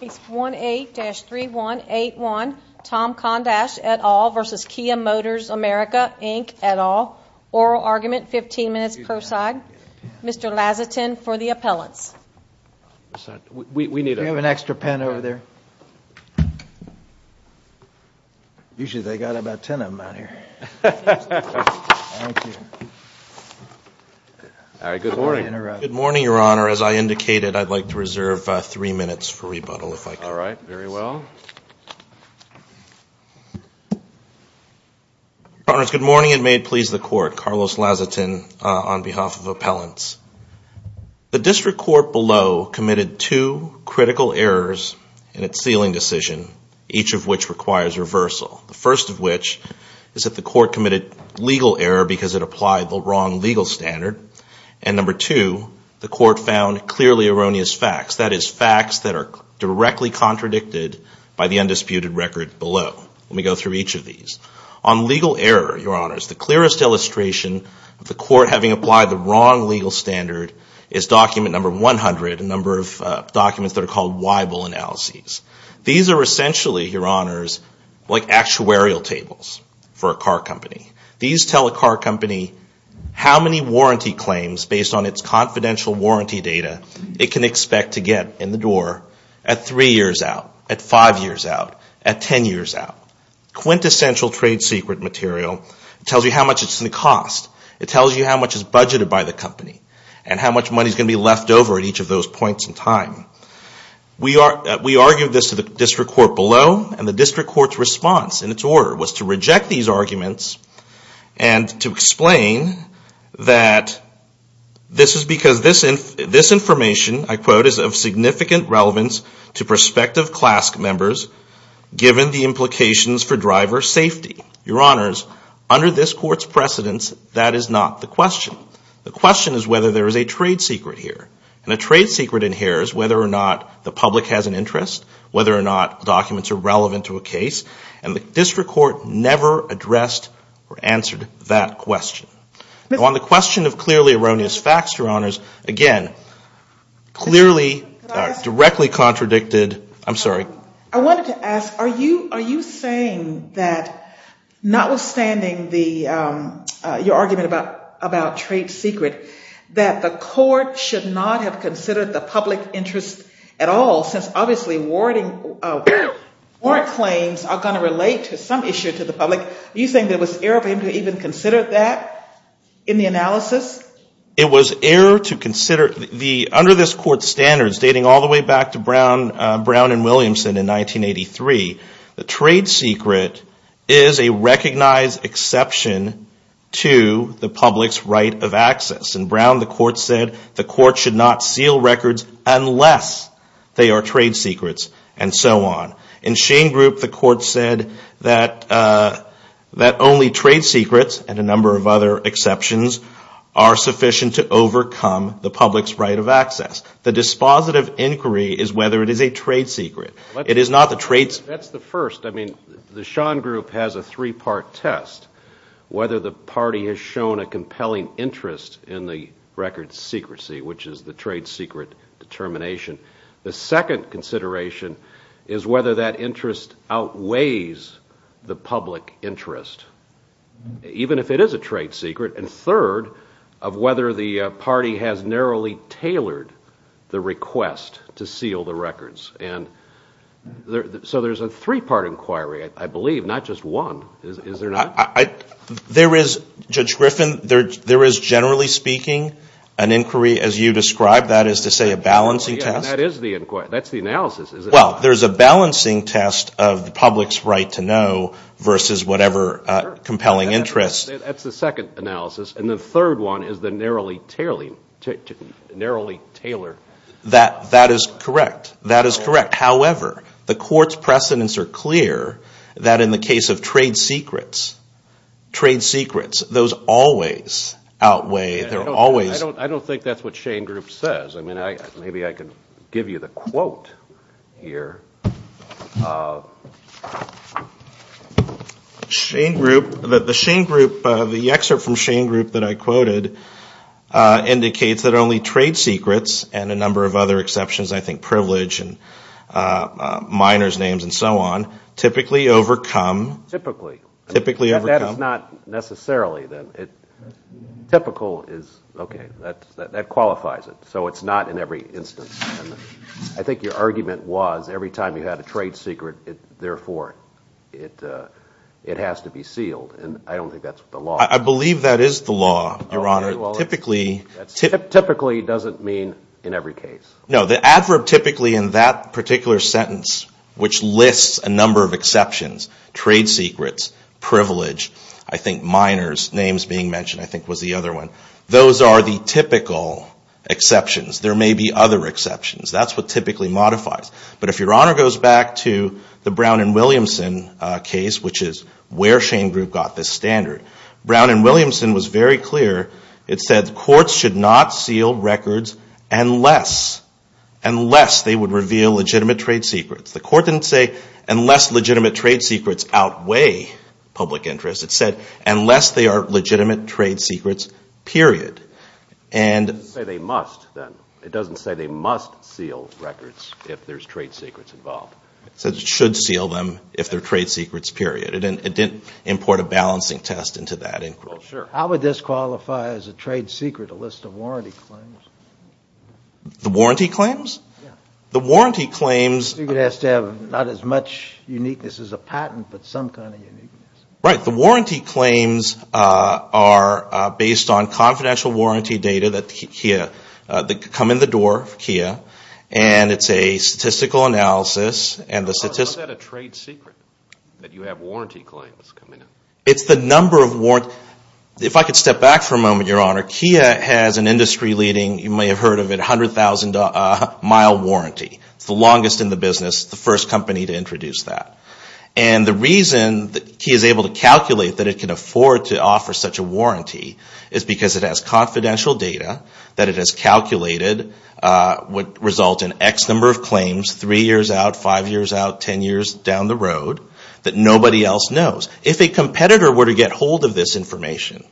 Page 18-3181 Tom Kondash et al. v. Kia Motors America Inc. et al. Oral argument, 15 minutes per side. Mr. Lazatin for the appellants. We need an extra pen over there. Usually they've got about 10 of them out here. Good morning, Your Honor. As I indicated, I'd like to reserve three minutes for rebuttal, if I could. All right. Very well. Your Honors, good morning, and may it please the Court. Carlos Lazatin on behalf of appellants. The district court below committed two critical errors in its sealing decision, each of which requires reversal, the first of which is that the court committed legal error because it applied the wrong legal standard, and number two, the court found clearly erroneous facts, that is, facts that are directly contradicted by the undisputed record below. Let me go through each of these. On legal error, Your Honors, the clearest illustration of the court having applied the wrong legal standard is document number 100, a number of documents that are called Weibull analyses. These are essentially, Your Honors, like actuarial tables for a car company. These tell a car company how many warranty claims, based on its confidential warranty data, it can expect to get in the door at three years out, at five years out, at 10 years out. Quintessential trade secret material. It tells you how much it's going to cost. It tells you how much is budgeted by the company and how much money is going to be left over at each of those points in time. We argued this to the district court below, and the district court's response in its order was to reject these arguments and to explain that this is because this information, I quote, is of significant relevance to prospective CLASC members given the implications for driver safety. Your Honors, under this court's precedence, that is not the question. The question is whether there is a trade secret here. And a trade secret in here is whether or not the public has an interest, whether or not documents are relevant to a case, and the district court never addressed or answered that question. On the question of clearly erroneous facts, Your Honors, again, clearly, directly contradicted. I'm sorry. I wanted to ask, are you saying that notwithstanding your argument about trade secret, that the court should not have considered the public interest at all, since obviously warrant claims are going to relate to some issue to the public? Are you saying there was error for him to even consider that in the analysis? It was error to consider. Under this court's standards, dating all the way back to Brown and Williamson in 1983, the trade secret is a recognized exception to the public's right of access. In Brown, the court said the court should not seal records unless they are trade secrets, and so on. In Schoen Group, the court said that only trade secrets and a number of other exceptions are sufficient to overcome the public's right of access. The dispositive inquiry is whether it is a trade secret. It is not the trade secret. That's the first. I mean, the Schoen Group has a three-part test, whether the party has shown a compelling interest in the record secrecy, which is the trade secret determination. The second consideration is whether that interest outweighs the public interest, even if it is a trade secret. And third, of whether the party has narrowly tailored the request to seal the records. And so there's a three-part inquiry, I believe, not just one, is there not? There is, Judge Griffin, there is generally speaking an inquiry as you described, that is to say a balancing test. That is the inquiry. That's the analysis, isn't it? Well, there's a balancing test of the public's right to know versus whatever compelling interest. That's the second analysis, and the third one is the narrowly tailored. That is correct. That is correct. Trade secrets, those always outweigh, they're always. I don't think that's what Schoen Group says. I mean, maybe I could give you the quote here. Schoen Group, the Schoen Group, the excerpt from Schoen Group that I quoted indicates that only trade secrets and a number of other exceptions, I think privilege and miners' names and so on, typically overcome. Typically. Typically overcome. That is not necessarily. Typical is, okay, that qualifies it. So it's not in every instance. I think your argument was every time you had a trade secret, therefore, it has to be sealed. And I don't think that's the law. I believe that is the law, Your Honor. Typically. Typically doesn't mean in every case. No, the adverb typically in that particular sentence, which lists a number of exceptions, trade secrets, privilege, I think miners' names being mentioned, I think, was the other one. Those are the typical exceptions. There may be other exceptions. That's what typically modifies. But if Your Honor goes back to the Brown and Williamson case, which is where Schoen Group got this standard, Brown and Williamson was very clear. It said courts should not seal records unless they would reveal legitimate trade secrets. The court didn't say unless legitimate trade secrets outweigh public interest. It said unless they are legitimate trade secrets, period. It doesn't say they must, then. It doesn't say they must seal records if there's trade secrets involved. It said it should seal them if they're trade secrets, period. It didn't import a balancing test into that inquiry. Well, sure. How would this qualify as a trade secret, a list of warranty claims? The warranty claims? Yeah. The warranty claims. You could ask to have not as much uniqueness as a patent, but some kind of uniqueness. Right. The warranty claims are based on confidential warranty data that come in the door, KIA, and it's a statistical analysis. How is that a trade secret, that you have warranty claims come in? It's the number of warranties. If I could step back for a moment, Your Honor. KIA has an industry-leading, you may have heard of it, 100,000-mile warranty. It's the longest in the business, the first company to introduce that. And the reason that KIA is able to calculate that it can afford to offer such a warranty is because it has confidential data that it has calculated would result in X number of claims, 3 years out, 5 years out, 10 years down the road, that nobody else knows. If a competitor were to get hold of this information,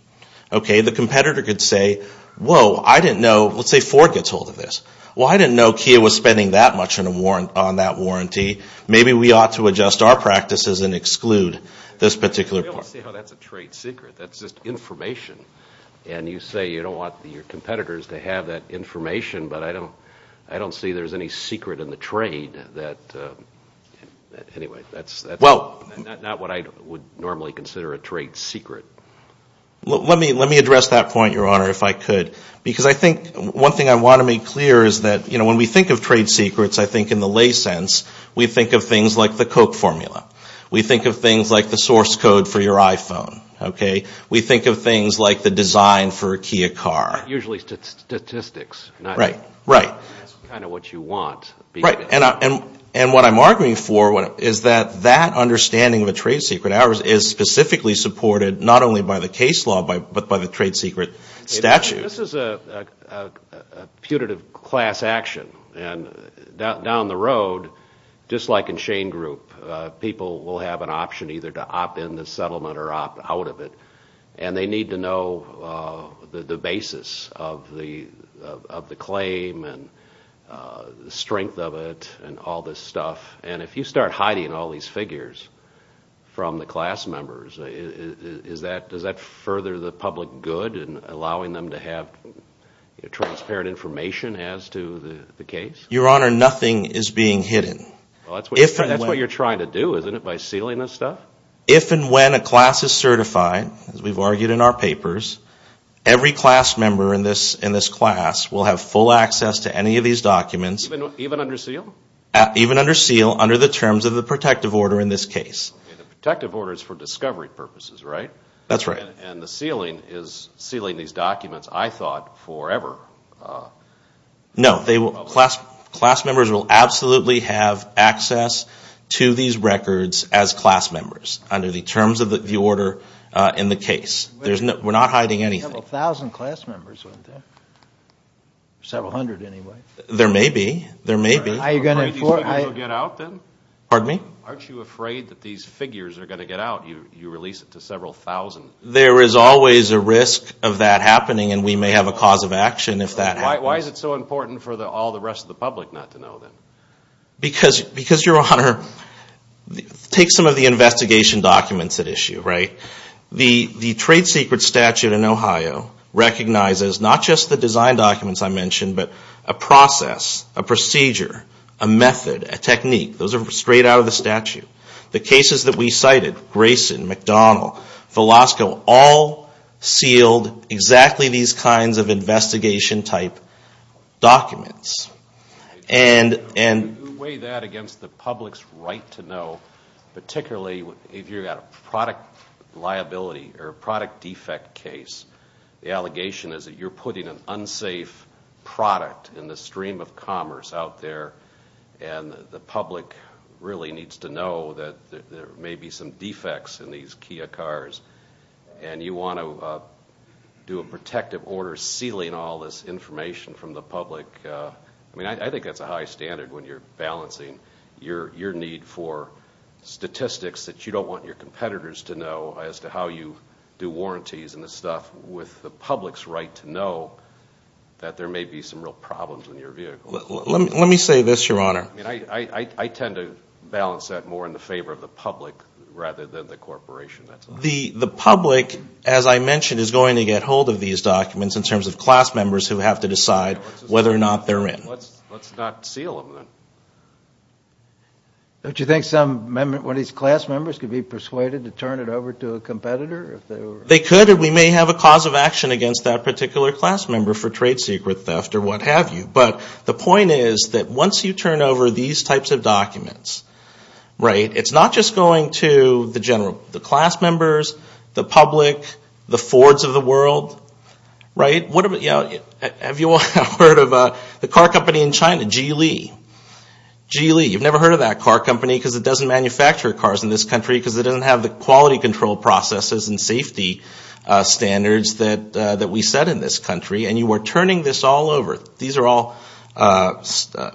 okay, the competitor could say, Whoa, I didn't know, let's say Ford gets hold of this. Well, I didn't know KIA was spending that much on that warranty. Maybe we ought to adjust our practices and exclude this particular part. I don't see how that's a trade secret. That's just information. And you say you don't want your competitors to have that information, but I don't see there's any secret in the trade that, anyway, that's not what I would normally consider a trade secret. Let me address that point, Your Honor, if I could. Because I think one thing I want to make clear is that when we think of trade secrets, I think in the lay sense, we think of things like the Koch formula. We think of things like the source code for your iPhone. Okay? We think of things like the design for a KIA car. Usually statistics. Right. Right. That's kind of what you want. Right. And what I'm arguing for is that that understanding of a trade secret is specifically supported not only by the case law, but by the trade secret statute. This is a putative class action, and down the road, just like in Shane Group, people will have an option either to opt in the settlement or opt out of it, and they need to know the basis of the claim and the strength of it and all this stuff. And if you start hiding all these figures from the class members, does that further the public good in allowing them to have transparent information as to the case? Your Honor, nothing is being hidden. That's what you're trying to do, isn't it, by sealing this stuff? If and when a class is certified, as we've argued in our papers, every class member in this class will have full access to any of these documents. Even under seal? Even under seal under the terms of the protective order in this case. The protective order is for discovery purposes, right? That's right. And the sealing is sealing these documents, I thought, forever. No. Class members will absolutely have access to these records as class members under the terms of the order in the case. We're not hiding anything. There were several thousand class members, weren't there? Several hundred, anyway. There may be. Are you going to get out, then? Pardon me? Aren't you afraid that these figures are going to get out? You release it to several thousand. There is always a risk of that happening, and we may have a cause of action if that happens. Why is it so important for all the rest of the public not to know, then? Because, Your Honor, take some of the investigation documents at issue, right? The trade secret statute in Ohio recognizes not just the design documents I mentioned, but a process, a procedure, a method, a technique. Those are straight out of the statute. The cases that we cited, Grayson, McDonnell, Velasco, all sealed exactly these kinds of investigation-type documents. You weigh that against the public's right to know, particularly if you've got a product liability or a product defect case. The allegation is that you're putting an unsafe product in the stream of commerce out there, and the public really needs to know that there may be some defects in these Kia cars, and you want to do a protective order sealing all this information from the public. I think that's a high standard when you're balancing your need for statistics that you don't want your competitors to know as to how you do warranties and this stuff with the public's right to know that there may be some real problems in your vehicle. Let me say this, Your Honor. I tend to balance that more in the favor of the public rather than the corporation. The public, as I mentioned, is going to get hold of these documents in terms of class members who have to decide whether or not they're in. Let's not seal them, then. Don't you think some of these class members could be persuaded to turn it over to a competitor? They could, and we may have a cause of action against that particular class member for trade secret theft or what have you. But the point is that once you turn over these types of documents, it's not just going to the general class members, the public, the Fords of the world. Have you all heard of the car company in China, Geely? You've never heard of that car company because it doesn't manufacture cars in this country because it doesn't have the quality control processes and safety standards that we set in this country. And you are turning this all over. These are all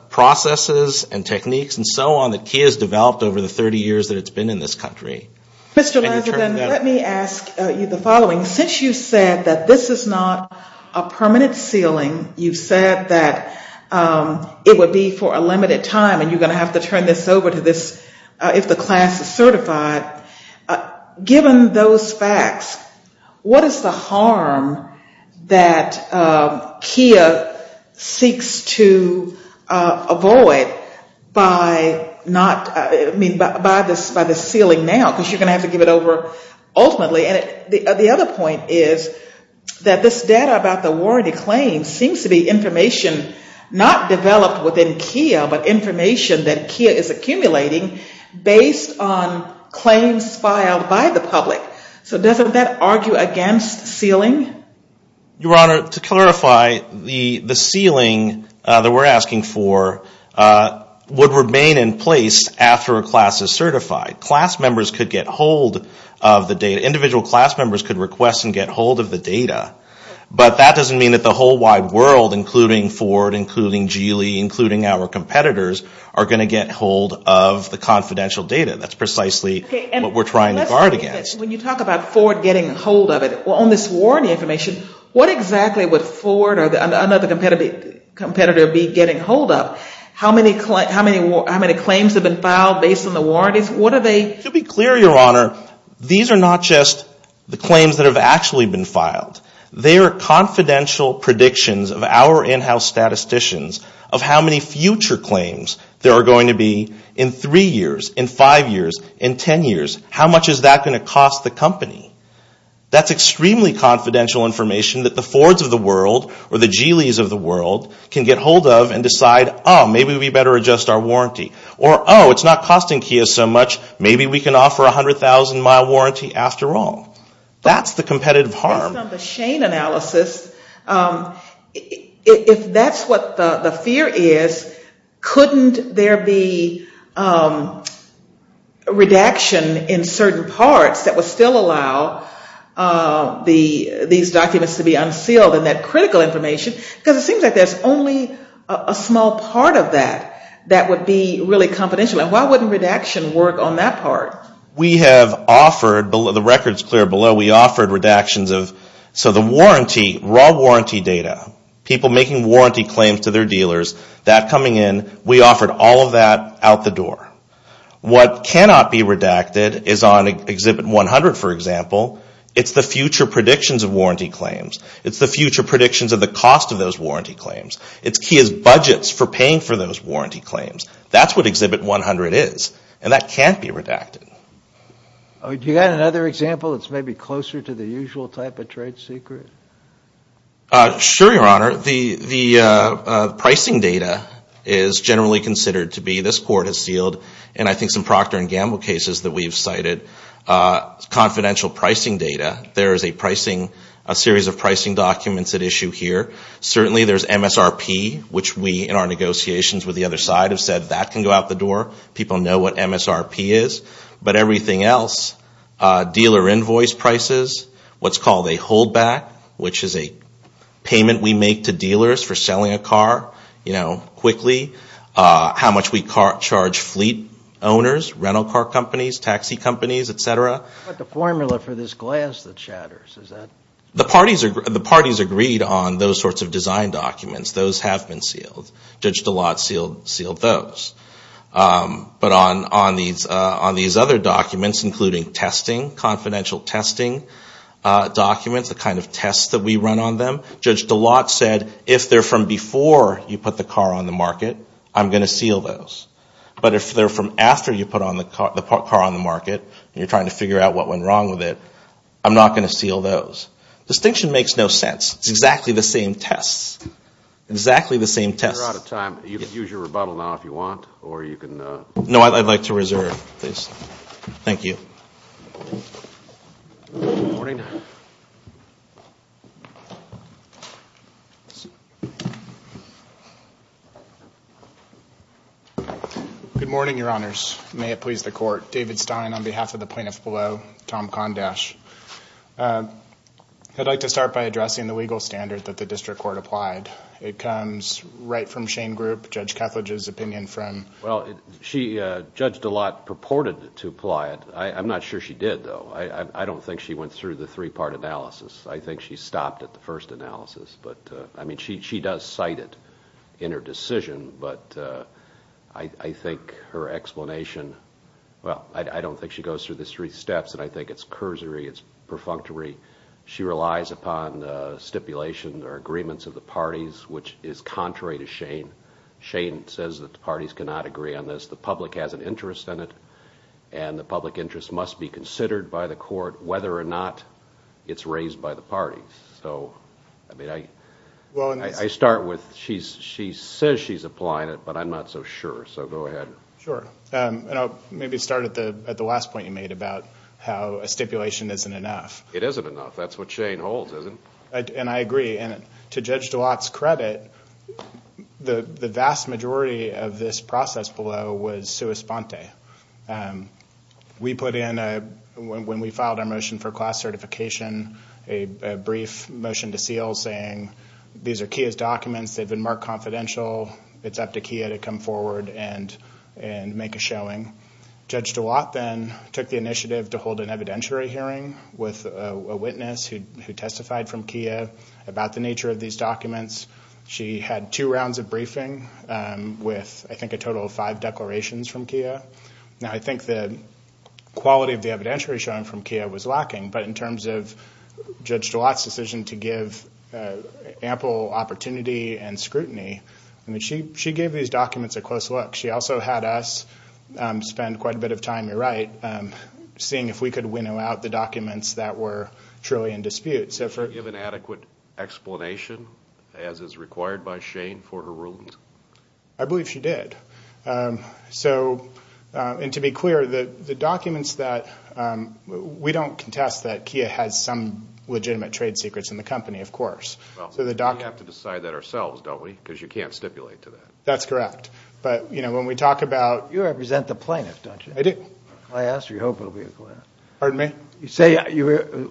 processes and techniques and so on that Kia has developed over the 30 years that it's been in this country. Let me ask you the following. Since you said that this is not a permanent sealing, you said that it would be for a limited time and you're going to have to turn this over to this if the class is certified, given those facts, what is the harm that Kia seeks to avoid by the sealing now? Because you're going to have to give it over ultimately. And the other point is that this data about the warranty claims seems to be information not developed within Kia but information that Kia is accumulating based on claims filed by the public. So doesn't that argue against sealing? Your Honor, to clarify, the sealing that we're asking for would remain in place after a class is certified. Class members could get hold of the data. Individual class members could request and get hold of the data. But that doesn't mean that the whole wide world, including Ford, including Geely, including our competitors, are going to get hold of the confidential data. That's precisely what we're trying to guard against. When you talk about Ford getting hold of it, on this warranty information, what exactly would Ford or another competitor be getting hold of? How many claims have been filed based on the warranties? To be clear, Your Honor, these are not just the claims that have actually been filed. They are confidential predictions of our in-house statisticians of how many future claims there are going to be in three years, in five years, in ten years. How much is that going to cost the company? That's extremely confidential information that the Fords of the world or the Geelys of the world can get hold of and decide, oh, maybe we better adjust our warranty. Or, oh, it's not costing Kia so much. Maybe we can offer a 100,000-mile warranty after all. That's the competitive harm. Based on the Shane analysis, if that's what the fear is, couldn't there be redaction in certain parts that would still allow these documents to be unsealed and that critical information? Because it seems like there's only a small part of that that would be really confidential. And why wouldn't redaction work on that part? We have offered, the record's clear below, we offered redactions of, so the warranty, raw warranty data, people making warranty claims to their dealers, that coming in, we offered all of that out the door. What cannot be redacted is on Exhibit 100, for example. It's the future predictions of warranty claims. It's the future predictions of the cost of those warranty claims. It's Kia's budgets for paying for those warranty claims. That's what Exhibit 100 is. And that can't be redacted. Do you have another example that's maybe closer to the usual type of trade secret? Sure, Your Honor. The pricing data is generally considered to be, this court has sealed, and I think some Procter & Gamble cases that we've cited, confidential pricing data. There is a pricing, a series of pricing documents at issue here. Certainly there's MSRP, which we, in our negotiations with the other side, have said that can go out the door. People know what MSRP is. But everything else, dealer invoice prices, what's called a holdback, which is a payment we make to dealers for selling a car, you know, quickly. How much we charge fleet owners, rental car companies, taxi companies, et cetera. But the formula for this glass that shatters, is that? The parties agreed on those sorts of design documents. Those have been sealed. Judge DeLotte sealed those. But on these other documents, including testing, confidential testing documents, the kind of tests that we run on them, Judge DeLotte said, if they're from before you put the car on the market, I'm going to seal those. But if they're from after you put the car on the market, and you're trying to figure out what went wrong with it, I'm not going to seal those. Distinction makes no sense. It's exactly the same tests. Exactly the same tests. We're out of time. You can use your rebuttal now if you want, or you can... No, I'd like to reserve, please. Thank you. Good morning. Good morning, Your Honors. May it please the Court. David Stein on behalf of the plaintiff below, Tom Condash. I'd like to start by addressing the legal standard that the district court applied. It comes right from Shane Group, Judge Kethledge's opinion from... Well, she, Judge DeLotte, purported to apply it. I'm not sure she did, though. I don't think she went through the three-part analysis. I think she stopped at the first analysis. I mean, she does cite it in her decision, but I think her explanation... Well, I don't think she goes through the three steps, and I think it's cursory, it's perfunctory. She relies upon stipulation or agreements of the parties, which is contrary to Shane. Shane says that the parties cannot agree on this. The public has an interest in it, and the public interest must be considered by the court, whether or not it's raised by the parties. So, I mean, I start with she says she's applying it, but I'm not so sure, so go ahead. Sure. And I'll maybe start at the last point you made about how a stipulation isn't enough. It isn't enough. That's what Shane holds, isn't it? And I agree. And to Judge DeWatt's credit, the vast majority of this process below was sua sponte. We put in, when we filed our motion for class certification, a brief motion to seal saying these are KIA's documents, they've been marked confidential, it's up to KIA to come forward and make a showing. Judge DeWatt then took the initiative to hold an evidentiary hearing with a witness who testified from KIA about the nature of these documents. She had two rounds of briefing with, I think, a total of five declarations from KIA. Now, I think the quality of the evidentiary showing from KIA was lacking, but in terms of Judge DeWatt's decision to give ample opportunity and scrutiny, I mean, she gave these documents a close look. She also had us spend quite a bit of time, you're right, seeing if we could winnow out the documents that were truly in dispute. Did she give an adequate explanation, as is required by Shane, for her rulings? I believe she did. And to be clear, the documents that we don't contest that KIA has some legitimate trade secrets in the company, of course. Well, we have to decide that ourselves, don't we, because you can't stipulate to that. That's correct. But, you know, when we talk about— You represent the plaintiff, don't you? I do. I asked. You hope it will be a plaintiff. Pardon me? You say you have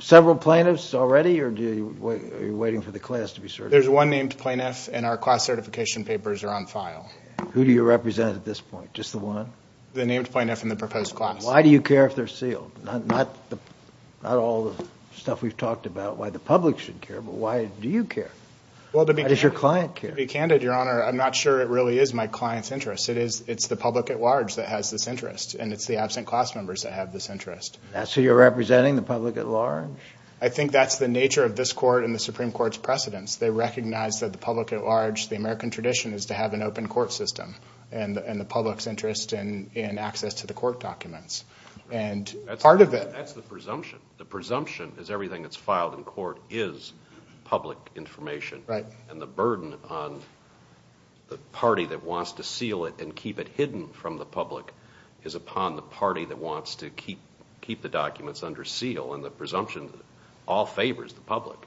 several plaintiffs already, or are you waiting for the class to be certified? There's one named plaintiff, and our class certification papers are on file. Who do you represent at this point? Just the one? The named plaintiff in the proposed class. Why do you care if they're sealed? Not all the stuff we've talked about why the public should care, but why do you care? How does your client care? To be candid, Your Honor, I'm not sure it really is my client's interest. It's the public at large that has this interest, and it's the absent class members that have this interest. So you're representing the public at large? I think that's the nature of this court and the Supreme Court's precedence. They recognize that the public at large, the American tradition, is to have an open court system, and the public's interest in access to the court documents. And part of it— That's the presumption. The presumption is everything that's filed in court is public information. Right. And the burden on the party that wants to seal it and keep it hidden from the public is upon the party that wants to keep the documents under seal, and the presumption all favors the public,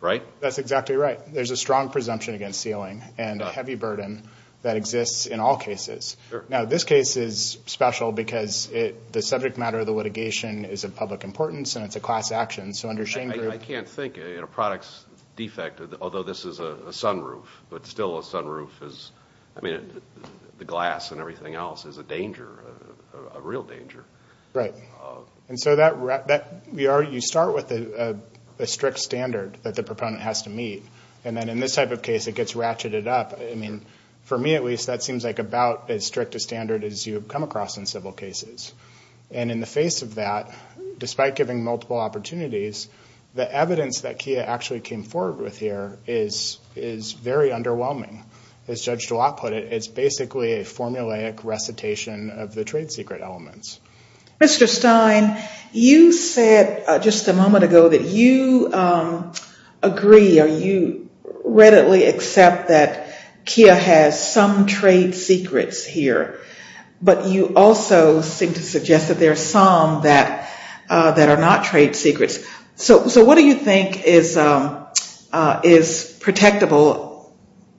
right? That's exactly right. There's a strong presumption against sealing and a heavy burden that exists in all cases. Now, this case is special because the subject matter of the litigation is of public importance and it's a class action, so under Shane Group— I can't think of a product's defect, although this is a sunroof, but still a sunroof is— I mean, the glass and everything else is a danger, a real danger. Right. And so you start with a strict standard that the proponent has to meet, and then in this type of case it gets ratcheted up. I mean, for me at least, that seems like about as strict a standard as you come across in civil cases. And in the face of that, despite giving multiple opportunities, the evidence that Kia actually came forward with here is very underwhelming. As Judge DeWatt put it, it's basically a formulaic recitation of the trade secret elements. Mr. Stein, you said just a moment ago that you agree or you readily accept that Kia has some trade secrets here, but you also seem to suggest that there are some that are not trade secrets. So what do you think is protectable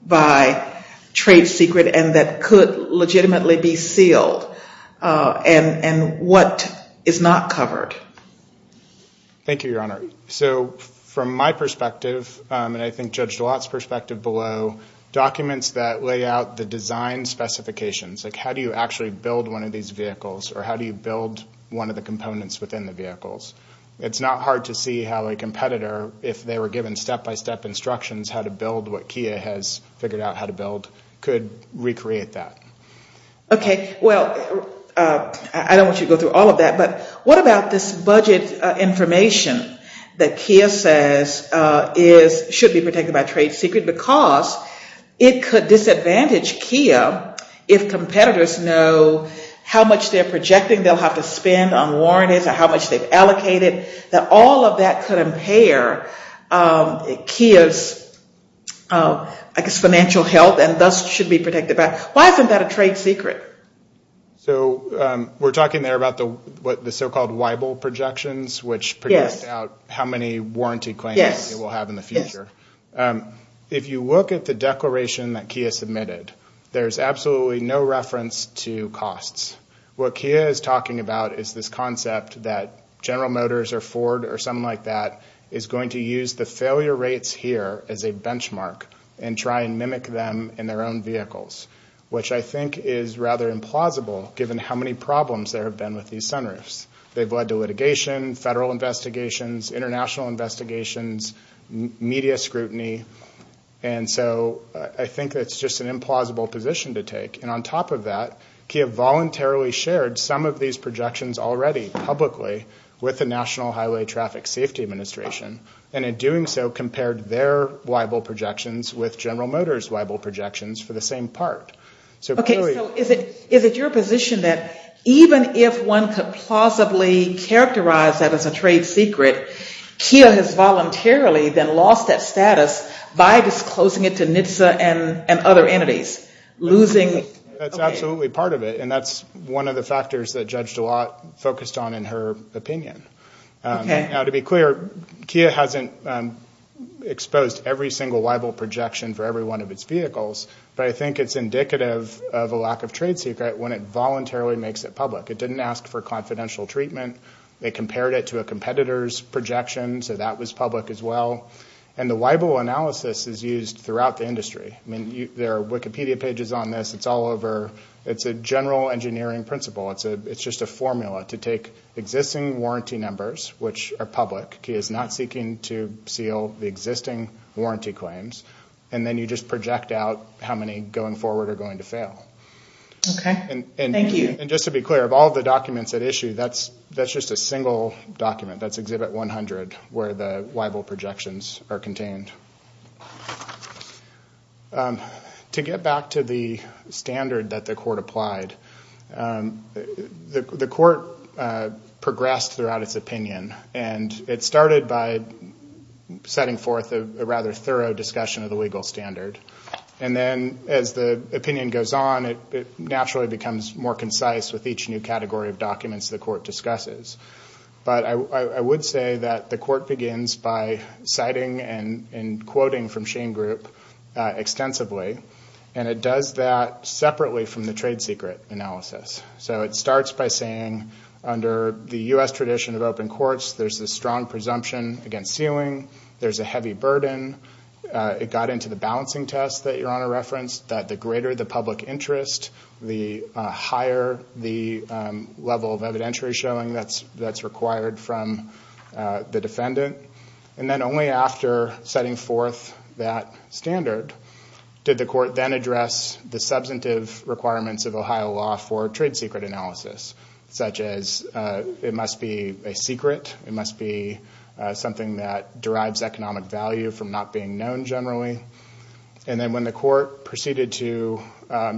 by trade secret and that could legitimately be sealed and what is not covered? Thank you, Your Honor. So from my perspective, and I think Judge DeWatt's perspective below, documents that lay out the design specifications, like how do you actually build one of these vehicles or how do you build one of the components within the vehicles. It's not hard to see how a competitor, if they were given step-by-step instructions how to build what Kia has figured out how to build, could recreate that. Okay. Well, I don't want you to go through all of that, but what about this budget information that Kia says should be protected by trade secret because it could disadvantage Kia if competitors know how much they're projecting they'll have to spend on warranties or how much they've allocated, that all of that could impair Kia's, I guess, financial health and thus should be protected by it. Why isn't that a trade secret? So we're talking there about the so-called Weibel projections, which produced out how many warranty claims it will have in the future. If you look at the declaration that Kia submitted, there's absolutely no reference to costs. What Kia is talking about is this concept that General Motors or Ford or something like that is going to use the failure rates here as a benchmark and try and mimic them in their own vehicles, which I think is rather implausible given how many problems there have been with these sunroofs. They've led to litigation, federal investigations, international investigations, media scrutiny, and so I think that's just an implausible position to take. And on top of that, Kia voluntarily shared some of these projections already publicly with the National Highway Traffic Safety Administration and in doing so compared their Weibel projections with General Motors' Weibel projections for the same part. So is it your position that even if one could plausibly characterize that as a trade secret, Kia has voluntarily then lost that status by disclosing it to NHTSA and other entities? That's absolutely part of it, and that's one of the factors that Judge DeLau focused on in her opinion. Now to be clear, Kia hasn't exposed every single Weibel projection for every one of its vehicles, but I think it's indicative of a lack of trade secret when it voluntarily makes it public. It didn't ask for confidential treatment. They compared it to a competitor's projection, so that was public as well, and the Weibel analysis is used throughout the industry. I mean, there are Wikipedia pages on this. It's all over. It's a general engineering principle. It's just a formula to take existing warranty numbers, which are public. Kia is not seeking to seal the existing warranty claims, and then you just project out how many going forward are going to fail. Okay. Thank you. And just to be clear, of all the documents at issue, that's just a single document. That's Exhibit 100 where the Weibel projections are contained. To get back to the standard that the court applied, the court progressed throughout its opinion, and it started by setting forth a rather thorough discussion of the legal standard, and then as the opinion goes on, it naturally becomes more concise with each new category of documents the court discusses. But I would say that the court begins by citing and quoting from Shane Group extensively, and it does that separately from the trade secret analysis. So it starts by saying, under the U.S. tradition of open courts, there's a strong presumption against sealing. There's a heavy burden. It got into the balancing test that Your Honor referenced, that the greater the public interest, the higher the level of evidentiary showing that's required from the defendant. And then only after setting forth that standard did the court then address the substantive requirements of Ohio law for trade secret analysis, such as it must be a secret, it must be something that derives economic value from not being known generally. And then when the court proceeded to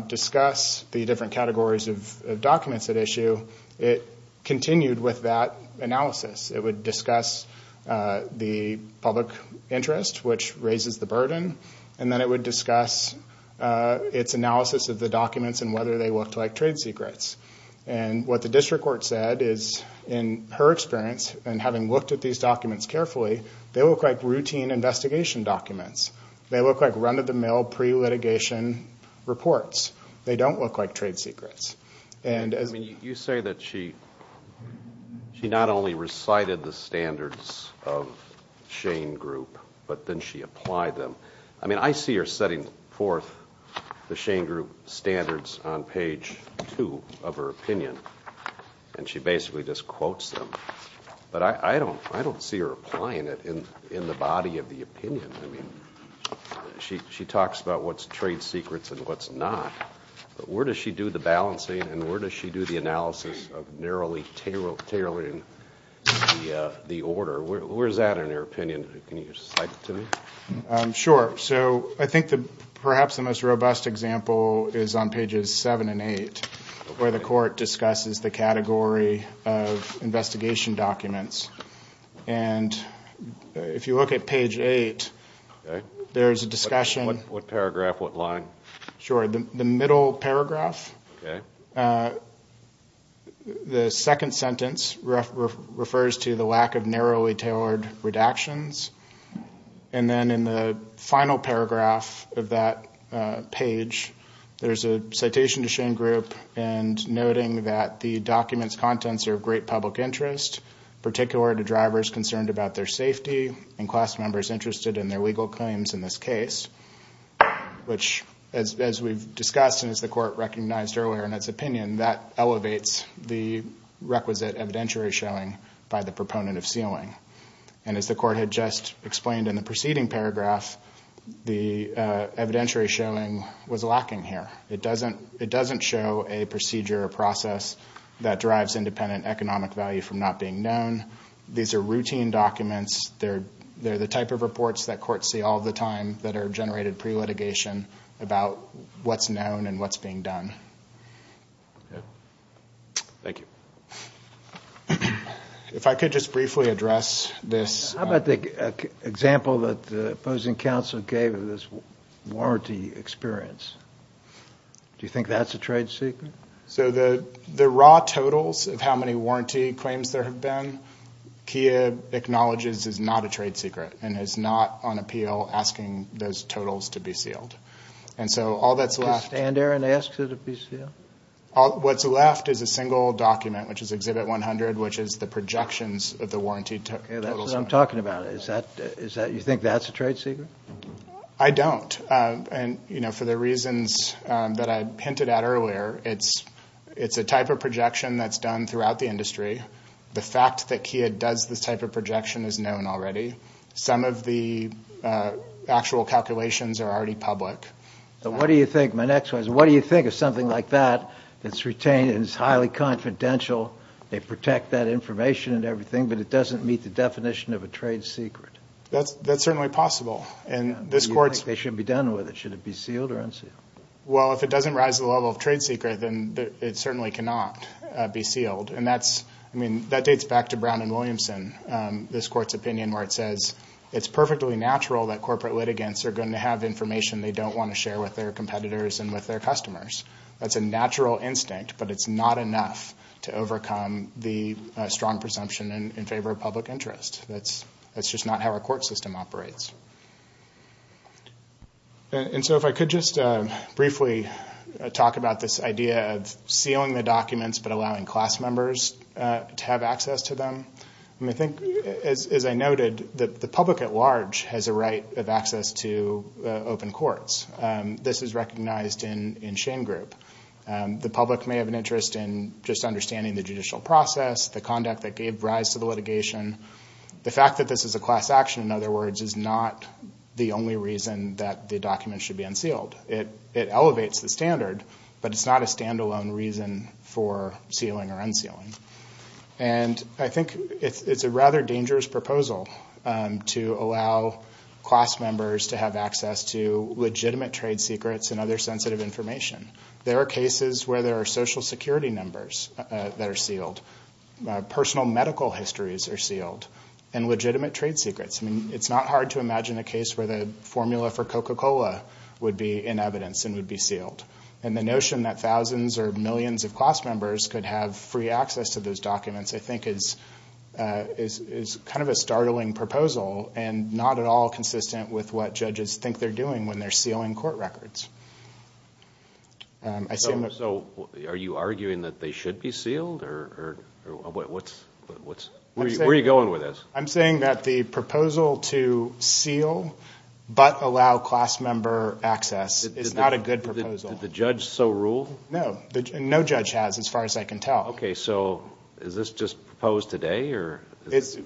discuss the different categories of documents at issue, it continued with that analysis. It would discuss the public interest, which raises the burden, and then it would discuss its analysis of the documents and whether they looked like trade secrets. And what the district court said is, in her experience, and having looked at these documents carefully, they look like routine investigation documents. They look like run-of-the-mill pre-litigation reports. They don't look like trade secrets. I mean, you say that she not only recited the standards of Shane Group, but then she applied them. I mean, I see her setting forth the Shane Group standards on page 2 of her opinion, and she basically just quotes them. But I don't see her applying it in the body of the opinion. I mean, she talks about what's trade secrets and what's not, but where does she do the balancing and where does she do the analysis of narrowly tailoring the order? Where is that in her opinion? Can you cite it to me? Sure. So I think perhaps the most robust example is on pages 7 and 8, where the court discusses the category of investigation documents. And if you look at page 8, there's a discussion. What paragraph? What line? Sure. The middle paragraph. Okay. The second sentence refers to the lack of narrowly tailored redactions. And then in the final paragraph of that page, there's a citation to Shane Group and noting that the document's contents are of great public interest, particular to drivers concerned about their safety and class members interested in their legal claims in this case, which, as we've discussed and as the court recognized earlier in its opinion, that elevates the requisite evidentiary showing by the proponent of sealing. And as the court had just explained in the preceding paragraph, the evidentiary showing was lacking here. It doesn't show a procedure or process that drives independent economic value from not being known. These are routine documents. They're the type of reports that courts see all the time that are generated pre-litigation about what's known and what's being done. Thank you. If I could just briefly address this. How about the example that the opposing counsel gave of this warranty experience? Do you think that's a trade secret? So the raw totals of how many warranty claims there have been, Kia acknowledges is not a trade secret and is not on appeal asking those totals to be sealed. And so all that's left. Can you stand there and ask it to be sealed? What's left is a single document, which is Exhibit 100, which is the projections of the warranty totals. That's what I'm talking about. You think that's a trade secret? I don't. And, you know, for the reasons that I hinted at earlier, it's a type of projection that's done throughout the industry. The fact that Kia does this type of projection is known already. Some of the actual calculations are already public. What do you think? My next one is, what do you think of something like that that's retained and is highly confidential? They protect that information and everything, but it doesn't meet the definition of a trade secret. That's certainly possible. Do you think they should be done with it? Should it be sealed or unsealed? Well, if it doesn't rise to the level of trade secret, then it certainly cannot be sealed. And that's, I mean, that dates back to Brown and Williamson, this court's opinion, where it says it's perfectly natural that corporate litigants are going to have information they don't want to share with their competitors and with their customers. That's a natural instinct, but it's not enough to overcome the strong presumption in favor of public interest. That's just not how our court system operates. And so if I could just briefly talk about this idea of sealing the documents but allowing class members to have access to them. I mean, I think, as I noted, the public at large has a right of access to open courts. This is recognized in Shane Group. The public may have an interest in just understanding the judicial process, the conduct that gave rise to the litigation. The fact that this is a class action, in other words, is not the only reason that the documents should be unsealed. It elevates the standard, but it's not a standalone reason for sealing or unsealing. And I think it's a rather dangerous proposal to allow class members to have access to legitimate trade secrets and other sensitive information. There are cases where there are Social Security numbers that are sealed, personal medical histories are sealed, and legitimate trade secrets. I mean, it's not hard to imagine a case where the formula for Coca-Cola would be in evidence and would be sealed. And the notion that thousands or millions of class members could have free access to those documents, I think, is kind of a startling proposal and not at all consistent with what judges think they're doing when they're sealing court records. So are you arguing that they should be sealed? Where are you going with this? I'm saying that the proposal to seal but allow class member access is not a good proposal. Did the judge so rule? No, no judge has, as far as I can tell. Okay, so is this just proposed today?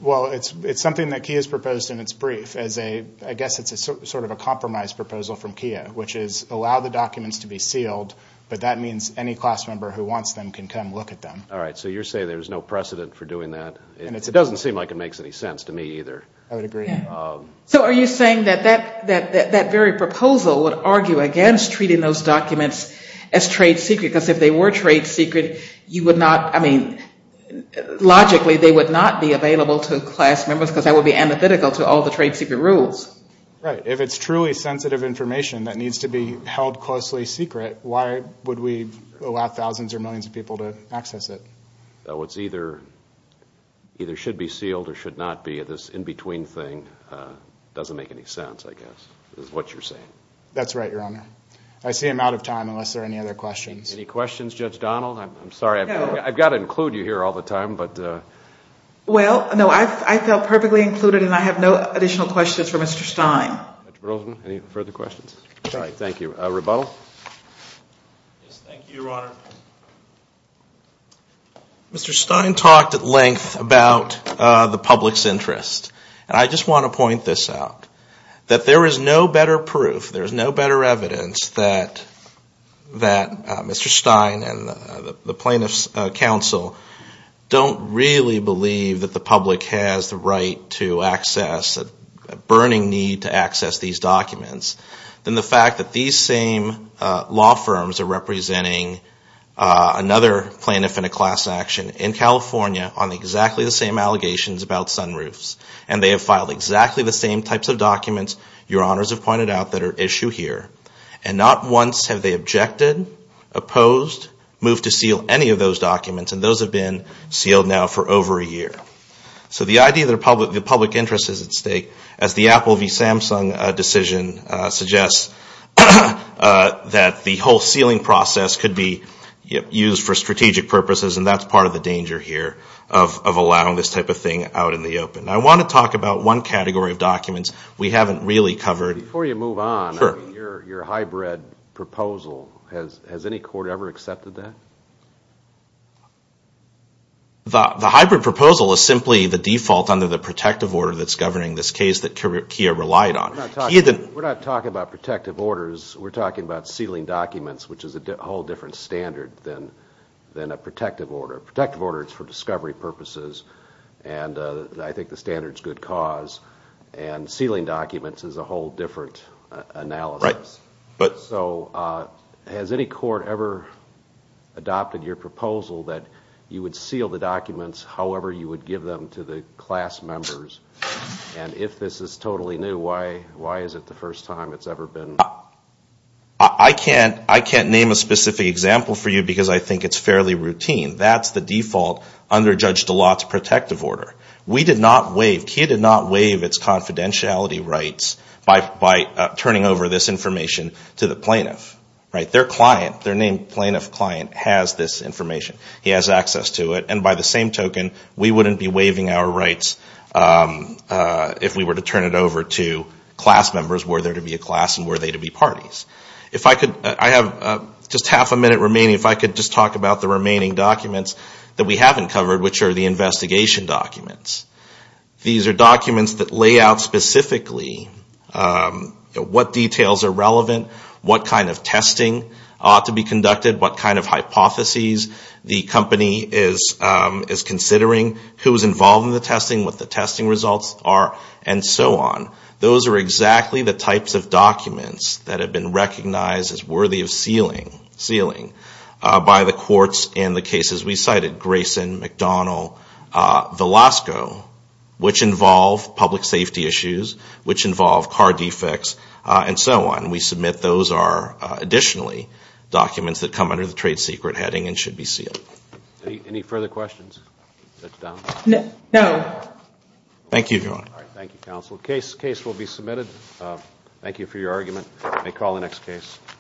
Well, it's something that KIA has proposed in its brief as a, I guess it's sort of a compromise proposal from KIA, which is allow the documents to be sealed, but that means any class member who wants them can come look at them. All right, so you're saying there's no precedent for doing that? It doesn't seem like it makes any sense to me either. I would agree. So are you saying that that very proposal would argue against treating those documents as trade secret? Because if they were trade secret, you would not, I mean, logically they would not be available to class members because that would be antithetical to all the trade secret rules. Right, if it's truly sensitive information that needs to be held closely secret, why would we allow thousands or millions of people to access it? So it's either, either should be sealed or should not be. This in-between thing doesn't make any sense, I guess, is what you're saying. That's right, Your Honor. I see I'm out of time unless there are any other questions. Any questions, Judge Donald? I'm sorry, I've got to include you here all the time, but. Well, no, I felt perfectly included and I have no additional questions for Mr. Stein. Mr. Berlesman, any further questions? Sorry. Thank you. Rebuttal? Yes, thank you, Your Honor. Mr. Stein talked at length about the public's interest. And I just want to point this out. That there is no better proof, there is no better evidence that Mr. Stein and the plaintiffs' counsel don't really believe that the public has the right to access, a burning need to access these documents than the fact that these same law firms are representing another plaintiff in a class action in California on exactly the same allegations about sunroofs. And they have filed exactly the same types of documents, Your Honors have pointed out, that are at issue here. And not once have they objected, opposed, moved to seal any of those documents. And those have been sealed now for over a year. So the idea that the public interest is at stake, as the Apple v. Samsung decision suggests, that the whole sealing process could be used for strategic purposes, and that's part of the danger here of allowing this type of thing out in the open. I want to talk about one category of documents we haven't really covered. Before you move on, your hybrid proposal, has any court ever accepted that? The hybrid proposal is simply the default under the protective order that's governing this case that Kia relied on. We're not talking about protective orders, we're talking about sealing documents, which is a whole different standard than a protective order. Protective order is for discovery purposes, and I think the standard is good cause. And sealing documents is a whole different analysis. So has any court ever adopted your proposal that you would seal the documents however you would give them to the class members? And if this is totally new, why is it the first time it's ever been done? I can't name a specific example for you, because I think it's fairly routine. That's the default under Judge DeLatte's protective order. We did not waive, Kia did not waive its confidentiality rights by turning over this information to the plaintiff. Their name plaintiff client has this information. He has access to it. And by the same token, we wouldn't be waiving our rights if we were to turn it over to class members, were there to be a class and were they to be parties. Just half a minute remaining, if I could just talk about the remaining documents that we haven't covered, which are the investigation documents. These are documents that lay out specifically what details are relevant, what kind of testing ought to be conducted, what kind of hypotheses the company is considering, who is involved in the testing, what the testing results are, and so on. Those are exactly the types of documents that have been recognized as worthy of sealing by the courts in the cases we cited, Grayson, McDonald, Velasco, which involve public safety issues, which involve car defects, and so on. We submit those are additionally documents that come under the trade secret heading and should be sealed. Any further questions? Thank you, counsel. Case will be submitted. Thank you for your argument.